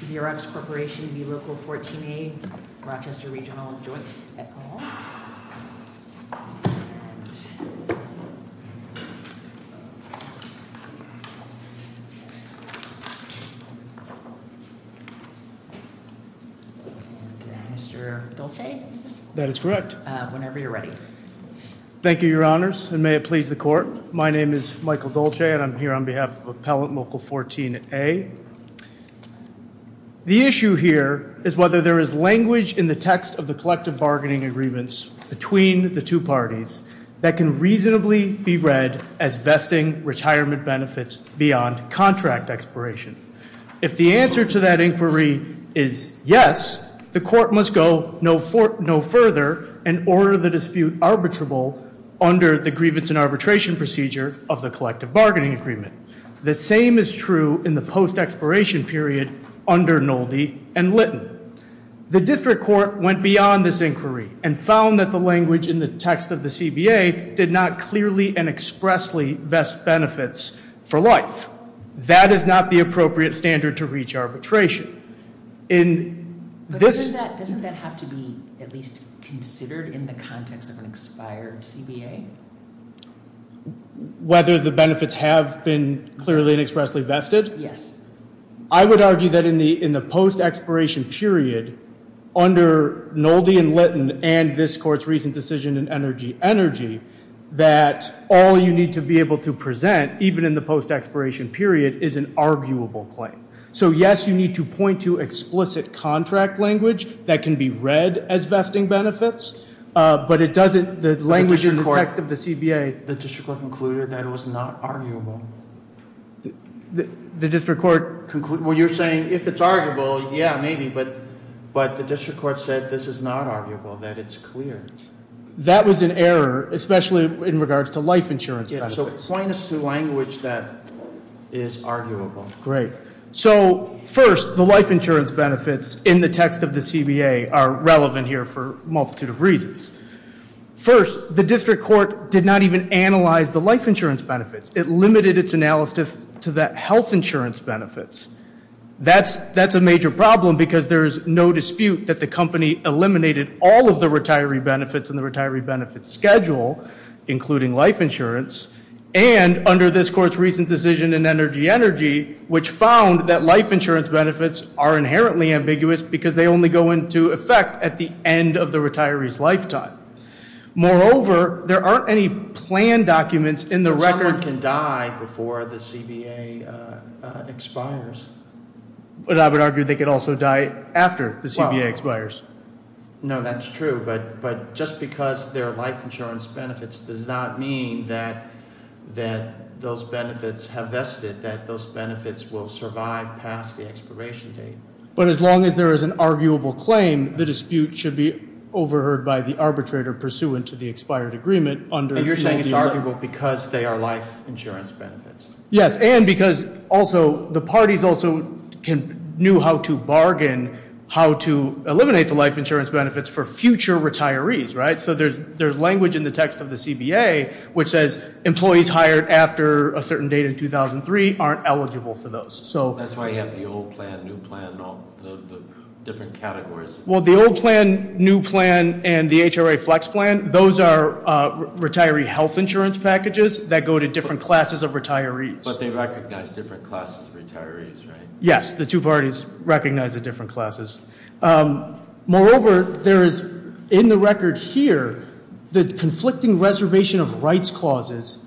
Xerox Corporation v. Local 14A, Rochester Regional Joint at Cone Hall. Mr. Dolce. That is correct. Whenever you're ready. Thank you, your honors, and may it please the court. My name is Michael Dolce and I'm here on behalf of Appellant Local 14A. The issue here is whether there is language in the text of the collective bargaining agreements between the two parties that can reasonably be read as vesting retirement benefits beyond contract expiration. If the answer to that inquiry is yes, the court must go no further and order the dispute arbitrable under the grievance and arbitration procedure of the collective bargaining agreement. The same is true in the post-expiration period under Nolde and Litton. The district court went beyond this inquiry and found that the language in the text of the CBA did not clearly and expressly vest benefits for life. That is not the appropriate standard to reach arbitration. Doesn't that have to be at least considered in the context of an expired CBA? Whether the benefits have been clearly and expressly vested? Yes. I would argue that in the post-expiration period under Nolde and Litton and this court's recent decision in Energy Energy that all you need to be able to present, even in the post-expiration period, is an arguable claim. So yes, you need to point to explicit contract language that can be read as vesting benefits, but the language in the text of the CBA... The district court concluded that it was not arguable. The district court concluded... Well, you're saying if it's arguable, yeah, maybe, but the district court said this is not arguable, that it's clear. That was an error, especially in regards to life insurance benefits. Yeah, so point us to language that is arguable. Great. So first, the life insurance benefits in the text of the CBA are relevant here for a multitude of reasons. First, the district court did not even analyze the life insurance benefits. It limited its analysis to the health insurance benefits. That's a major problem because there is no dispute that the company eliminated all of the retiree benefits and the retiree benefits schedule, including life insurance, and under this court's recent decision in Energy Energy, which found that life insurance benefits are inherently ambiguous because they only go into effect at the end of the retiree's lifetime. Moreover, there aren't any planned documents in the record... But someone can die before the CBA expires. But I would argue they could also die after the CBA expires. No, that's true, but just because there are life insurance benefits does not mean that those benefits have vested, that those benefits will survive past the expiration date. But as long as there is an arguable claim, the dispute should be overheard by the arbitrator pursuant to the expired agreement under... And you're saying it's arguable because they are life insurance benefits. Yes, and because also the parties also knew how to bargain how to eliminate the life insurance benefits for future retirees, right? So there's language in the text of the CBA which says employees hired after a certain date in 2003 aren't eligible for those. That's why you have the old plan, new plan, and all the different categories. Well, the old plan, new plan, and the HRA Flex plan, those are retiree health insurance packages that go to different classes of retirees. But they recognize different classes of retirees, right? Yes, the two parties recognize the different classes. Moreover, there is in the record here the conflicting reservation of rights clauses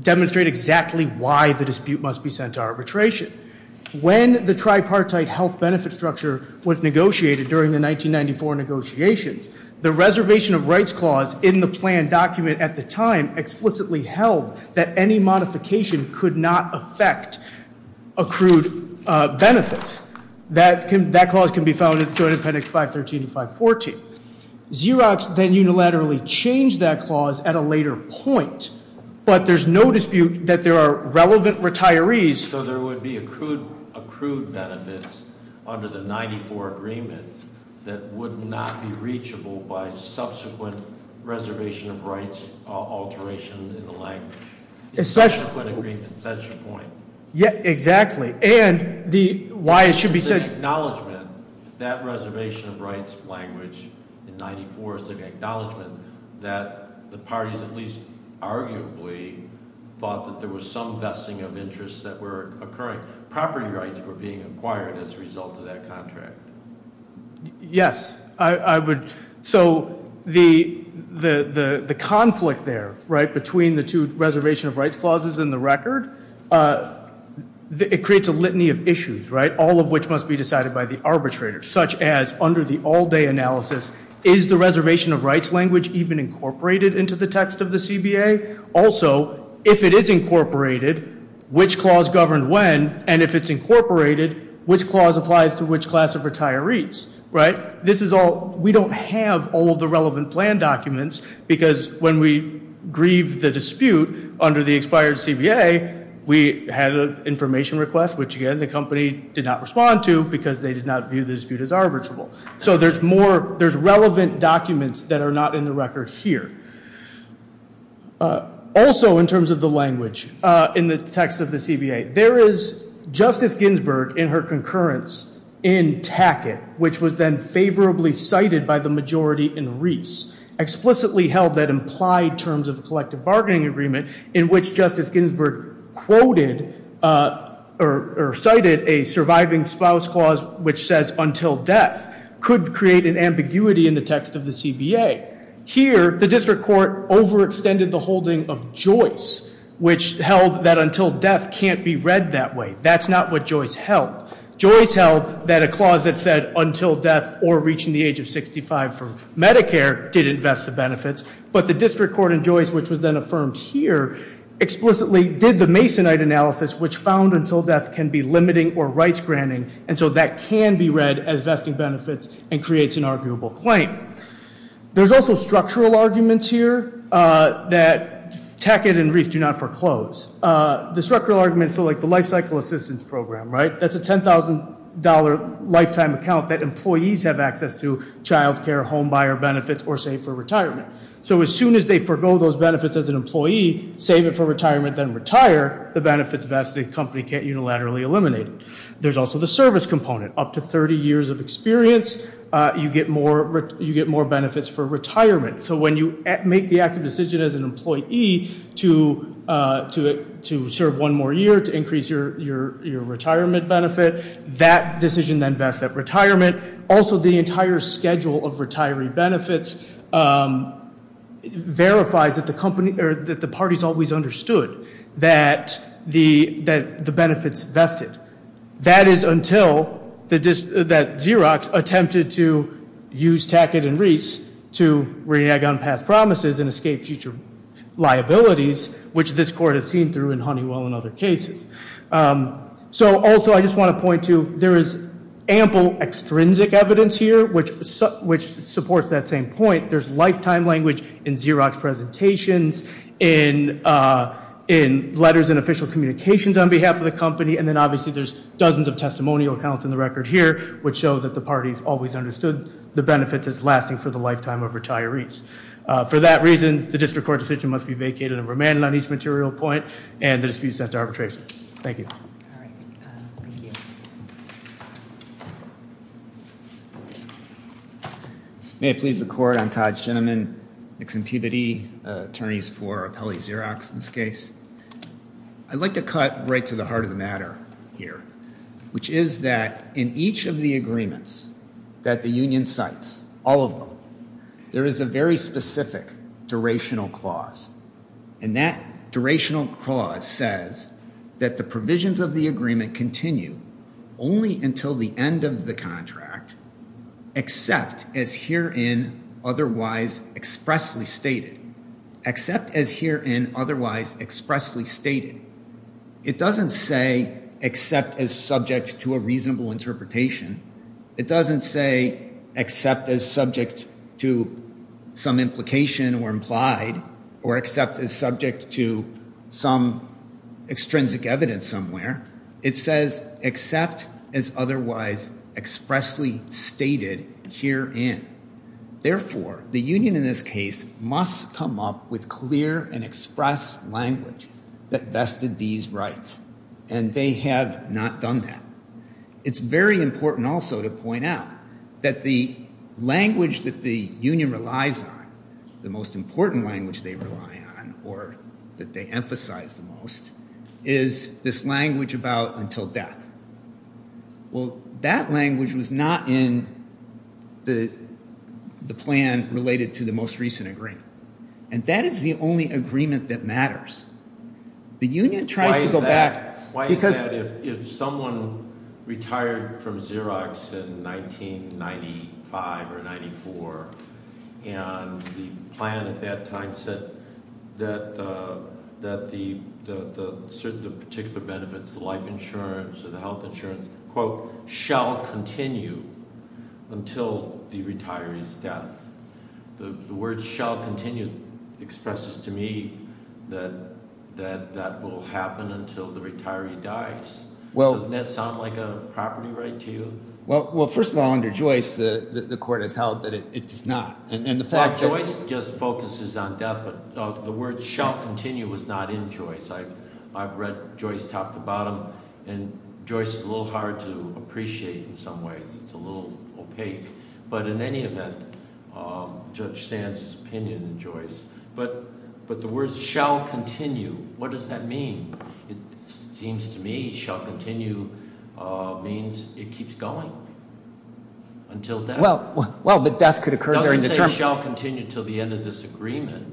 demonstrate exactly why the dispute must be sent to arbitration. When the tripartite health benefit structure was negotiated during the 1994 negotiations, the reservation of rights clause in the plan document at the time explicitly held that any modification could not affect accrued benefits. That clause can be found in Joint Appendix 513 and 514. Xerox then unilaterally changed that clause at a later point, but there's no dispute that there are relevant retirees- by subsequent reservation of rights alteration in the language. Especially- In subsequent agreements, that's your point. Yeah, exactly. And why it should be sent- It's an acknowledgment that reservation of rights language in 94 is an acknowledgment that the parties at least arguably thought that there was some vesting of interests that were occurring. Property rights were being acquired as a result of that contract. Yes, I would- So the conflict there, right, between the two reservation of rights clauses in the record, it creates a litany of issues, right, all of which must be decided by the arbitrator, such as under the all-day analysis, is the reservation of rights language even incorporated into the text of the CBA? Also, if it is incorporated, which clause governed when? And if it's incorporated, which clause applies to which class of retirees, right? This is all- We don't have all of the relevant plan documents because when we grieved the dispute under the expired CBA, we had an information request, which, again, the company did not respond to because they did not view the dispute as arbitrable. So there's more- There's relevant documents that are not in the record here. Also, in terms of the language in the text of the CBA, there is Justice Ginsburg, in her concurrence, in Tackett, which was then favorably cited by the majority in Reese, explicitly held that implied terms of a collective bargaining agreement in which Justice Ginsburg quoted or cited a surviving spouse clause which says until death could create an ambiguity in the text of the CBA. Here, the district court overextended the holding of Joyce, which held that until death can't be read that way. That's not what Joyce held. Joyce held that a clause that said until death or reaching the age of 65 for Medicare didn't vest the benefits, but the district court in Joyce, which was then affirmed here, explicitly did the Masonite analysis, which found until death can be limiting or rights-granting, and so that can be read as vesting benefits and creates an arguable claim. There's also structural arguments here that Tackett and Reese do not foreclose. The structural arguments are like the Lifecycle Assistance Program, right? That's a $10,000 lifetime account that employees have access to, child care, home buyer benefits, or save for retirement. So as soon as they forego those benefits as an employee, save it for retirement, then retire, the benefits vested, the company can't unilaterally eliminate it. There's also the service component. Up to 30 years of experience, you get more benefits for retirement. So when you make the active decision as an employee to serve one more year to increase your retirement benefit, that decision then vests that retirement. Also, the entire schedule of retiree benefits verifies that the parties always understood that the benefits vested. That is until Xerox attempted to use Tackett and Reese to renege on past promises and escape future liabilities, which this court has seen through in Honeywell and other cases. So also I just want to point to there is ample extrinsic evidence here, which supports that same point. There's lifetime language in Xerox presentations, in letters and official communications on behalf of the company, and then obviously there's dozens of testimonial accounts in the record here, which show that the parties always understood the benefits as lasting for the lifetime of retirees. For that reason, the district court decision must be vacated and remanded on each material point, and the dispute is set to arbitration. Thank you. All right. Thank you. May it please the court, I'm Todd Shinneman, Mixed Impunity Attorneys for Appellee Xerox in this case. I'd like to cut right to the heart of the matter here, which is that in each of the agreements that the union cites, all of them, there is a very specific durational clause, and that durational clause says that the provisions of the agreement continue only until the end of the contract, except as herein otherwise expressly stated. Except as herein otherwise expressly stated. It doesn't say except as subject to a reasonable interpretation. It doesn't say except as subject to some implication or implied, or except as subject to some extrinsic evidence somewhere. It says except as otherwise expressly stated herein. Therefore, the union in this case must come up with clear and express language that vested these rights, and they have not done that. It's very important also to point out that the language that the union relies on, the most important language they rely on or that they emphasize the most, is this language about until death. Well, that language was not in the plan related to the most recent agreement, and that is the only agreement that matters. The union tries to go back. Why is that? If someone retired from Xerox in 1995 or 94 and the plan at that time said that the particular benefits, the life insurance or the health insurance, quote, shall continue until the retiree's death. The word shall continue expresses to me that that will happen until the retiree dies. Doesn't that sound like a property right to you? Well, first of all, under Joyce, the court has held that it does not. In fact, Joyce just focuses on death, but the word shall continue was not in Joyce. I've read Joyce top to bottom, and Joyce is a little hard to appreciate in some ways. It's a little opaque, but in any event, Judge Stantz's opinion in Joyce. But the words shall continue, what does that mean? It seems to me shall continue means it keeps going until death. Well, but death could occur during the term. It doesn't say shall continue until the end of this agreement.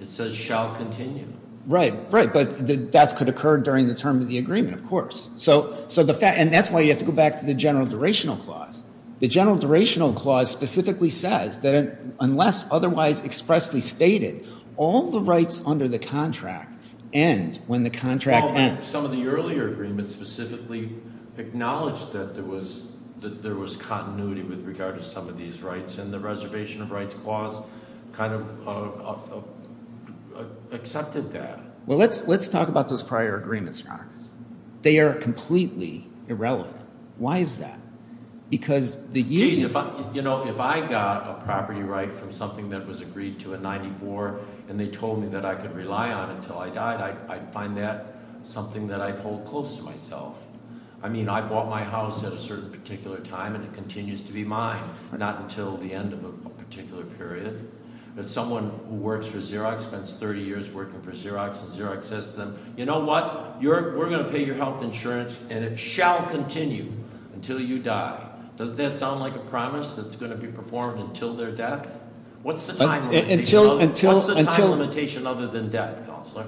It says shall continue. Right, right, but death could occur during the term of the agreement, of course. And that's why you have to go back to the general durational clause. The general durational clause specifically says that unless otherwise expressly stated, all the rights under the contract end when the contract ends. Some of the earlier agreements specifically acknowledged that there was continuity with regard to some of these rights, and the reservation of rights clause kind of accepted that. They are completely irrelevant. Why is that? Because the union- Geez, you know, if I got a property right from something that was agreed to in 94, and they told me that I could rely on it until I died, I'd find that something that I'd hold close to myself. I mean, I bought my house at a certain particular time, and it continues to be mine, not until the end of a particular period. Someone who works for Xerox spends 30 years working for Xerox, and Xerox says to them, you know what? We're going to pay your health insurance, and it shall continue until you die. Doesn't that sound like a promise that's going to be performed until their death? What's the time limitation other than death, Counselor?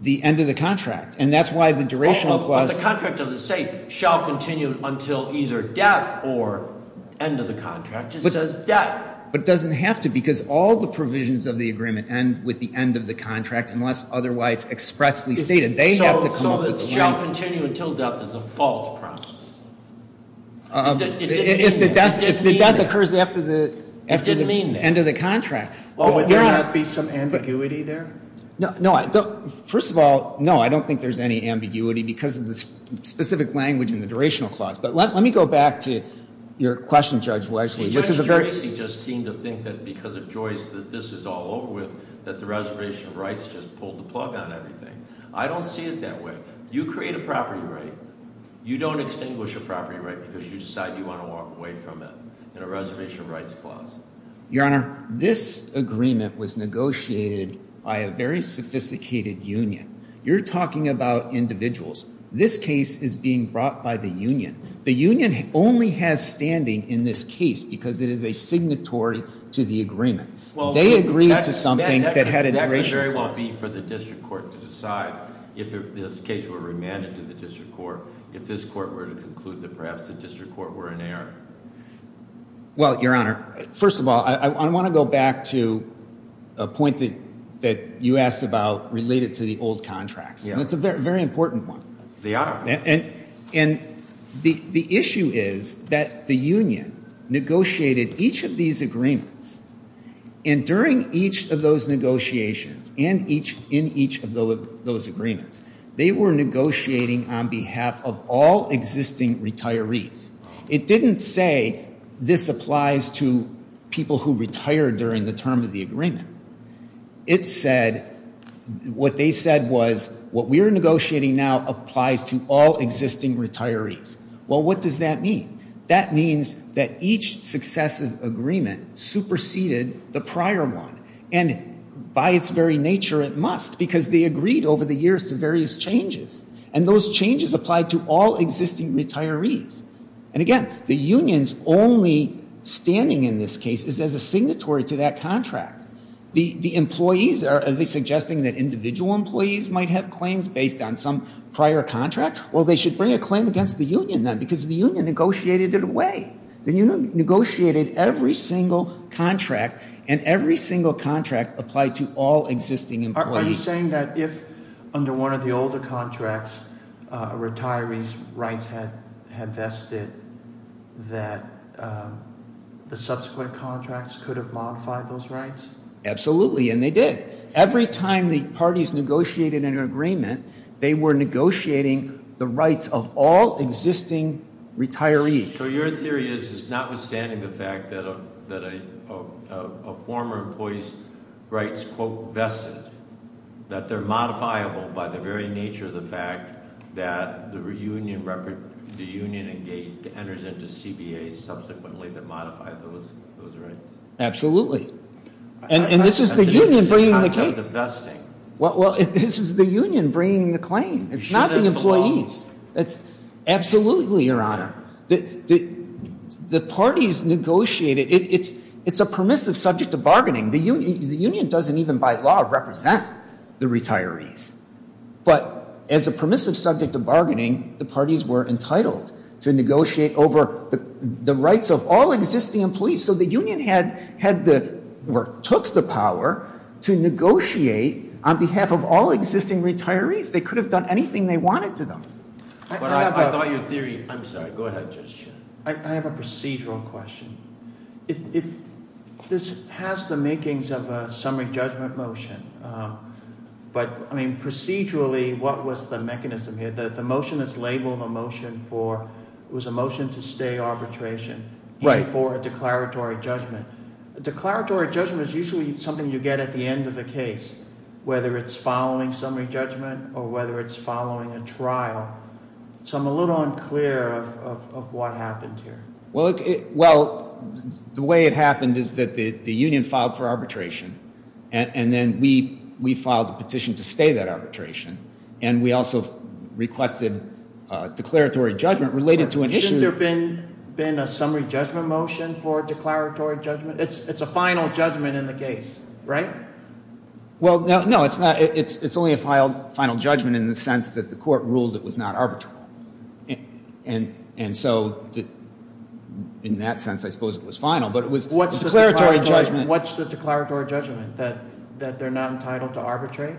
The end of the contract. And that's why the durational clause- But the contract doesn't say shall continue until either death or end of the contract. It says death. But it doesn't have to, because all the provisions of the agreement end with the end of the contract, unless otherwise expressly stated. They have to come up with the- So shall continue until death is a false promise. It didn't mean that. If the death occurs after the end of the contract. Well, would there not be some ambiguity there? No, first of all, no, I don't think there's any ambiguity because of the specific language in the durational clause. But let me go back to your question, Judge Wesley. Judge Gracie just seemed to think that because of Joyce that this is all over with, that the reservation of rights just pulled the plug on everything. I don't see it that way. You create a property right. You don't extinguish a property right because you decide you want to walk away from it in a reservation of rights clause. Your Honor, this agreement was negotiated by a very sophisticated union. You're talking about individuals. This case is being brought by the union. The union only has standing in this case because it is a signatory to the agreement. They agreed to something that had a duration clause. That could very well be for the district court to decide if this case were remanded to the district court, if this court were to conclude that perhaps the district court were in error. Well, Your Honor, first of all, I want to go back to a point that you asked about related to the old contracts. And it's a very important one. They are. And the issue is that the union negotiated each of these agreements. And during each of those negotiations and in each of those agreements, they were negotiating on behalf of all existing retirees. It didn't say this applies to people who retired during the term of the agreement. It said what they said was what we are negotiating now applies to all existing retirees. Well, what does that mean? That means that each successive agreement superseded the prior one. And by its very nature, it must because they agreed over the years to various changes. And those changes applied to all existing retirees. And again, the union's only standing in this case is as a signatory to that contract. The employees are suggesting that individual employees might have claims based on some prior contract. Well, they should bring a claim against the union then because the union negotiated it away. The union negotiated every single contract and every single contract applied to all existing employees. Are you saying that if under one of the older contracts, retirees' rights had vested, that the subsequent contracts could have modified those rights? Absolutely, and they did. Every time the parties negotiated an agreement, they were negotiating the rights of all existing retirees. So your theory is, is notwithstanding the fact that a former employee's rights, quote, vested, that they're modifiable by the very nature of the fact that the union enters into CBA subsequently to modify those rights? Absolutely. And this is the union bringing the case. Well, this is the union bringing the claim. It's not the employees. Absolutely, Your Honor. The parties negotiated. It's a permissive subject of bargaining. The union doesn't even by law represent the retirees. But as a permissive subject of bargaining, the parties were entitled to negotiate over the rights of all existing employees. So the union had the, or took the power to negotiate on behalf of all existing retirees. They could have done anything they wanted to them. But I thought your theory, I'm sorry. Go ahead, Judge. I have a procedural question. This has the makings of a summary judgment motion. But, I mean, procedurally, what was the mechanism here? The motion is labeled a motion for, it was a motion to stay arbitration. Right. For a declaratory judgment. A declaratory judgment is usually something you get at the end of the case, whether it's following summary judgment or whether it's following a trial. So I'm a little unclear of what happened here. Well, the way it happened is that the union filed for arbitration. And then we filed a petition to stay that arbitration. And we also requested declaratory judgment related to an issue. Has there been a summary judgment motion for declaratory judgment? It's a final judgment in the case, right? Well, no. It's not. It's only a final judgment in the sense that the court ruled it was not arbitrary. And so, in that sense, I suppose it was final. But it was a declaratory judgment. What's the declaratory judgment? That they're not entitled to arbitrate?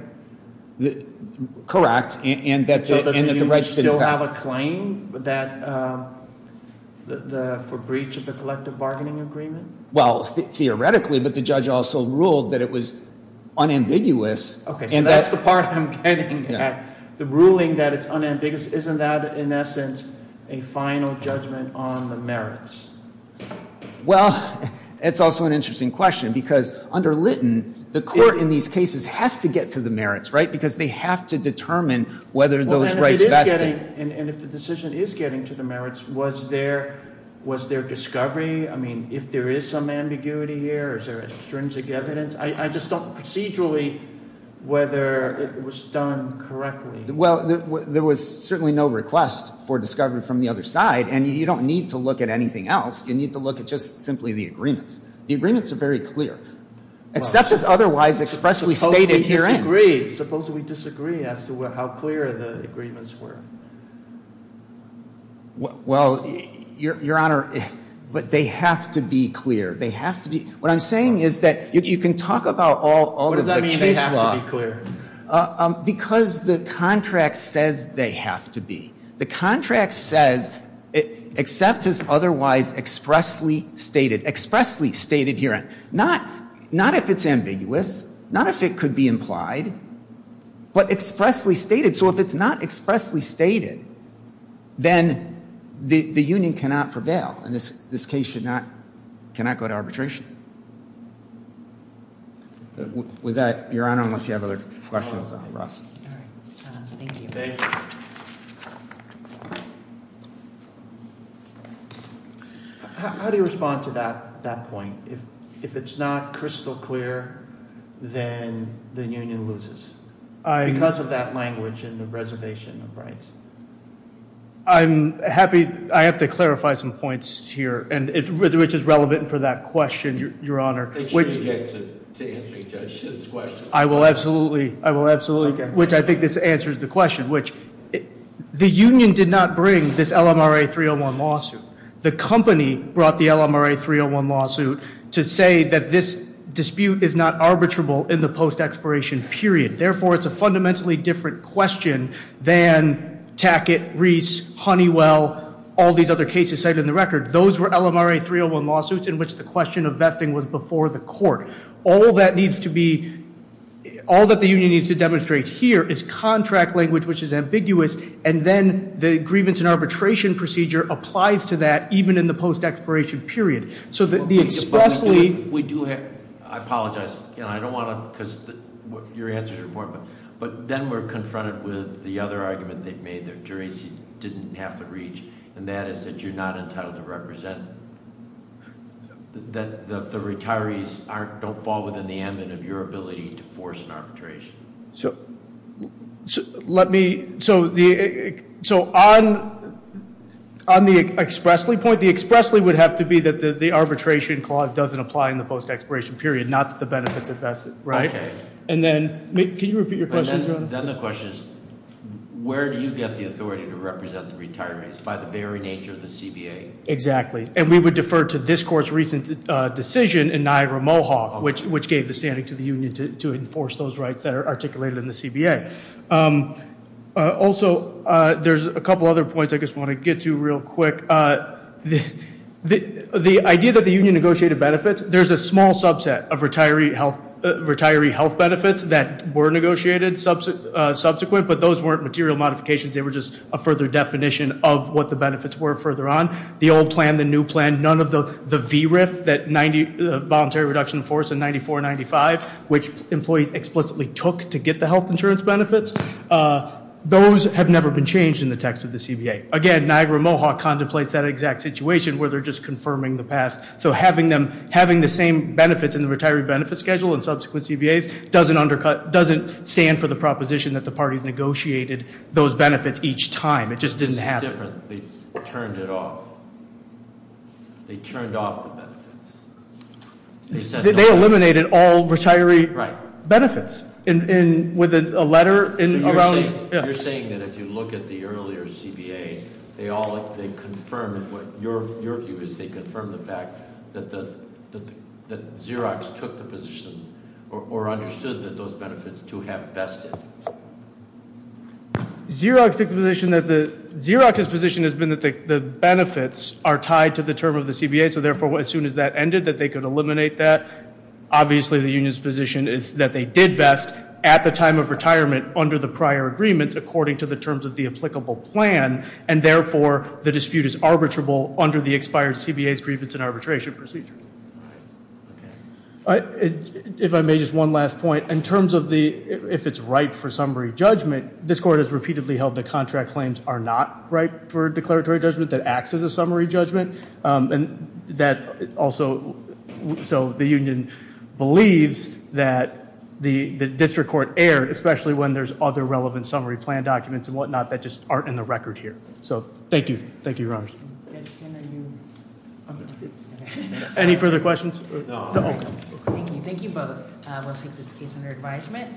Correct. So does the union still have a claim for breach of the collective bargaining agreement? Well, theoretically. But the judge also ruled that it was unambiguous. Okay. So that's the part I'm getting at. The ruling that it's unambiguous, isn't that, in essence, a final judgment on the merits? Well, it's also an interesting question. Because under Lytton, the court in these cases has to get to the merits, right? Because they have to determine whether those rights vested. And if the decision is getting to the merits, was there discovery? I mean, if there is some ambiguity here, is there extrinsic evidence? I just don't procedurally whether it was done correctly. Well, there was certainly no request for discovery from the other side. And you don't need to look at anything else. You need to look at just simply the agreements. The agreements are very clear. Except as otherwise expressly stated herein. Suppose we disagree as to how clear the agreements were. Well, Your Honor, they have to be clear. They have to be. What I'm saying is that you can talk about all of the case law. What does that mean, they have to be clear? Because the contract says they have to be. The contract says except as otherwise expressly stated. Expressly stated herein. Not if it's ambiguous. Not if it could be implied. But expressly stated. So if it's not expressly stated, then the union cannot prevail. And this case cannot go to arbitration. With that, Your Honor, unless you have other questions. Thank you. How do you respond to that point? If it's not crystal clear, then the union loses. Because of that language and the reservation of rights. I'm happy. I have to clarify some points here. And which is relevant for that question, Your Honor. I will absolutely, which I think this answers the question. The union did not bring this LMRA 301 lawsuit. The company brought the LMRA 301 lawsuit to say that this dispute is not arbitrable in the post expiration period. Therefore, it's a fundamentally different question than Tackett, Reese, Honeywell, all these other cases cited in the record. Those were LMRA 301 lawsuits in which the question of vesting was before the court. All that needs to be, all that the union needs to demonstrate here is contract language which is ambiguous. And then the grievance and arbitration procedure applies to that even in the post expiration period. So that the expressly- We do have, I apologize. I don't want to, because your answer is important. But then we're confronted with the other argument they've made. The jury didn't have to reach. And that is that you're not entitled to represent. The retirees don't fall within the ambit of your ability to force an arbitration. Let me, so on the expressly point, the expressly would have to be that the arbitration clause doesn't apply in the post expiration period. Not that the benefits invested, right? Okay. And then, can you repeat your question? Then the question is, where do you get the authority to represent the retirees? By the very nature of the CBA. Exactly. And we would defer to this court's recent decision in Niagara-Mohawk, which gave the standing to the union to enforce those rights that are articulated in the CBA. Also, there's a couple other points I just want to get to real quick. The idea that the union negotiated benefits, there's a small subset of retiree health benefits that were negotiated subsequent, but those weren't material modifications. They were just a further definition of what the benefits were further on. The old plan, the new plan, none of the VRIF, the voluntary reduction of force in 94 and 95, which employees explicitly took to get the health insurance benefits, those have never been changed in the text of the CBA. Again, Niagara-Mohawk contemplates that exact situation where they're just confirming the past. So having the same benefits in the retiree benefit schedule in subsequent CBAs doesn't stand for the proposition that the parties negotiated those benefits each time. It just didn't happen. This is different. They turned it off. They turned off the benefits. They eliminated all retiree benefits with a letter around- So you're saying that if you look at the earlier CBA, they confirmed what your view is. They confirmed the fact that Xerox took the position or understood that those benefits to have vested. Xerox took the position that the, Xerox's position has been that the benefits are tied to the term of the CBA. So therefore, as soon as that ended, that they could eliminate that. Obviously, the union's position is that they did vest at the time of retirement under the prior agreements, according to the terms of the applicable plan. And therefore, the dispute is arbitrable under the expired CBA's grievance and arbitration procedure. If I may, just one last point. In terms of the, if it's ripe for summary judgment, this court has repeatedly held that contract claims are not ripe for declaratory judgment that acts as a summary judgment. And that also, so the union believes that the district court erred, especially when there's other relevant summary plan documents and whatnot that just aren't in the record here. So thank you. Thank you, Your Honor. Any further questions? No. Thank you. Thank you both. We'll take this case under advisement.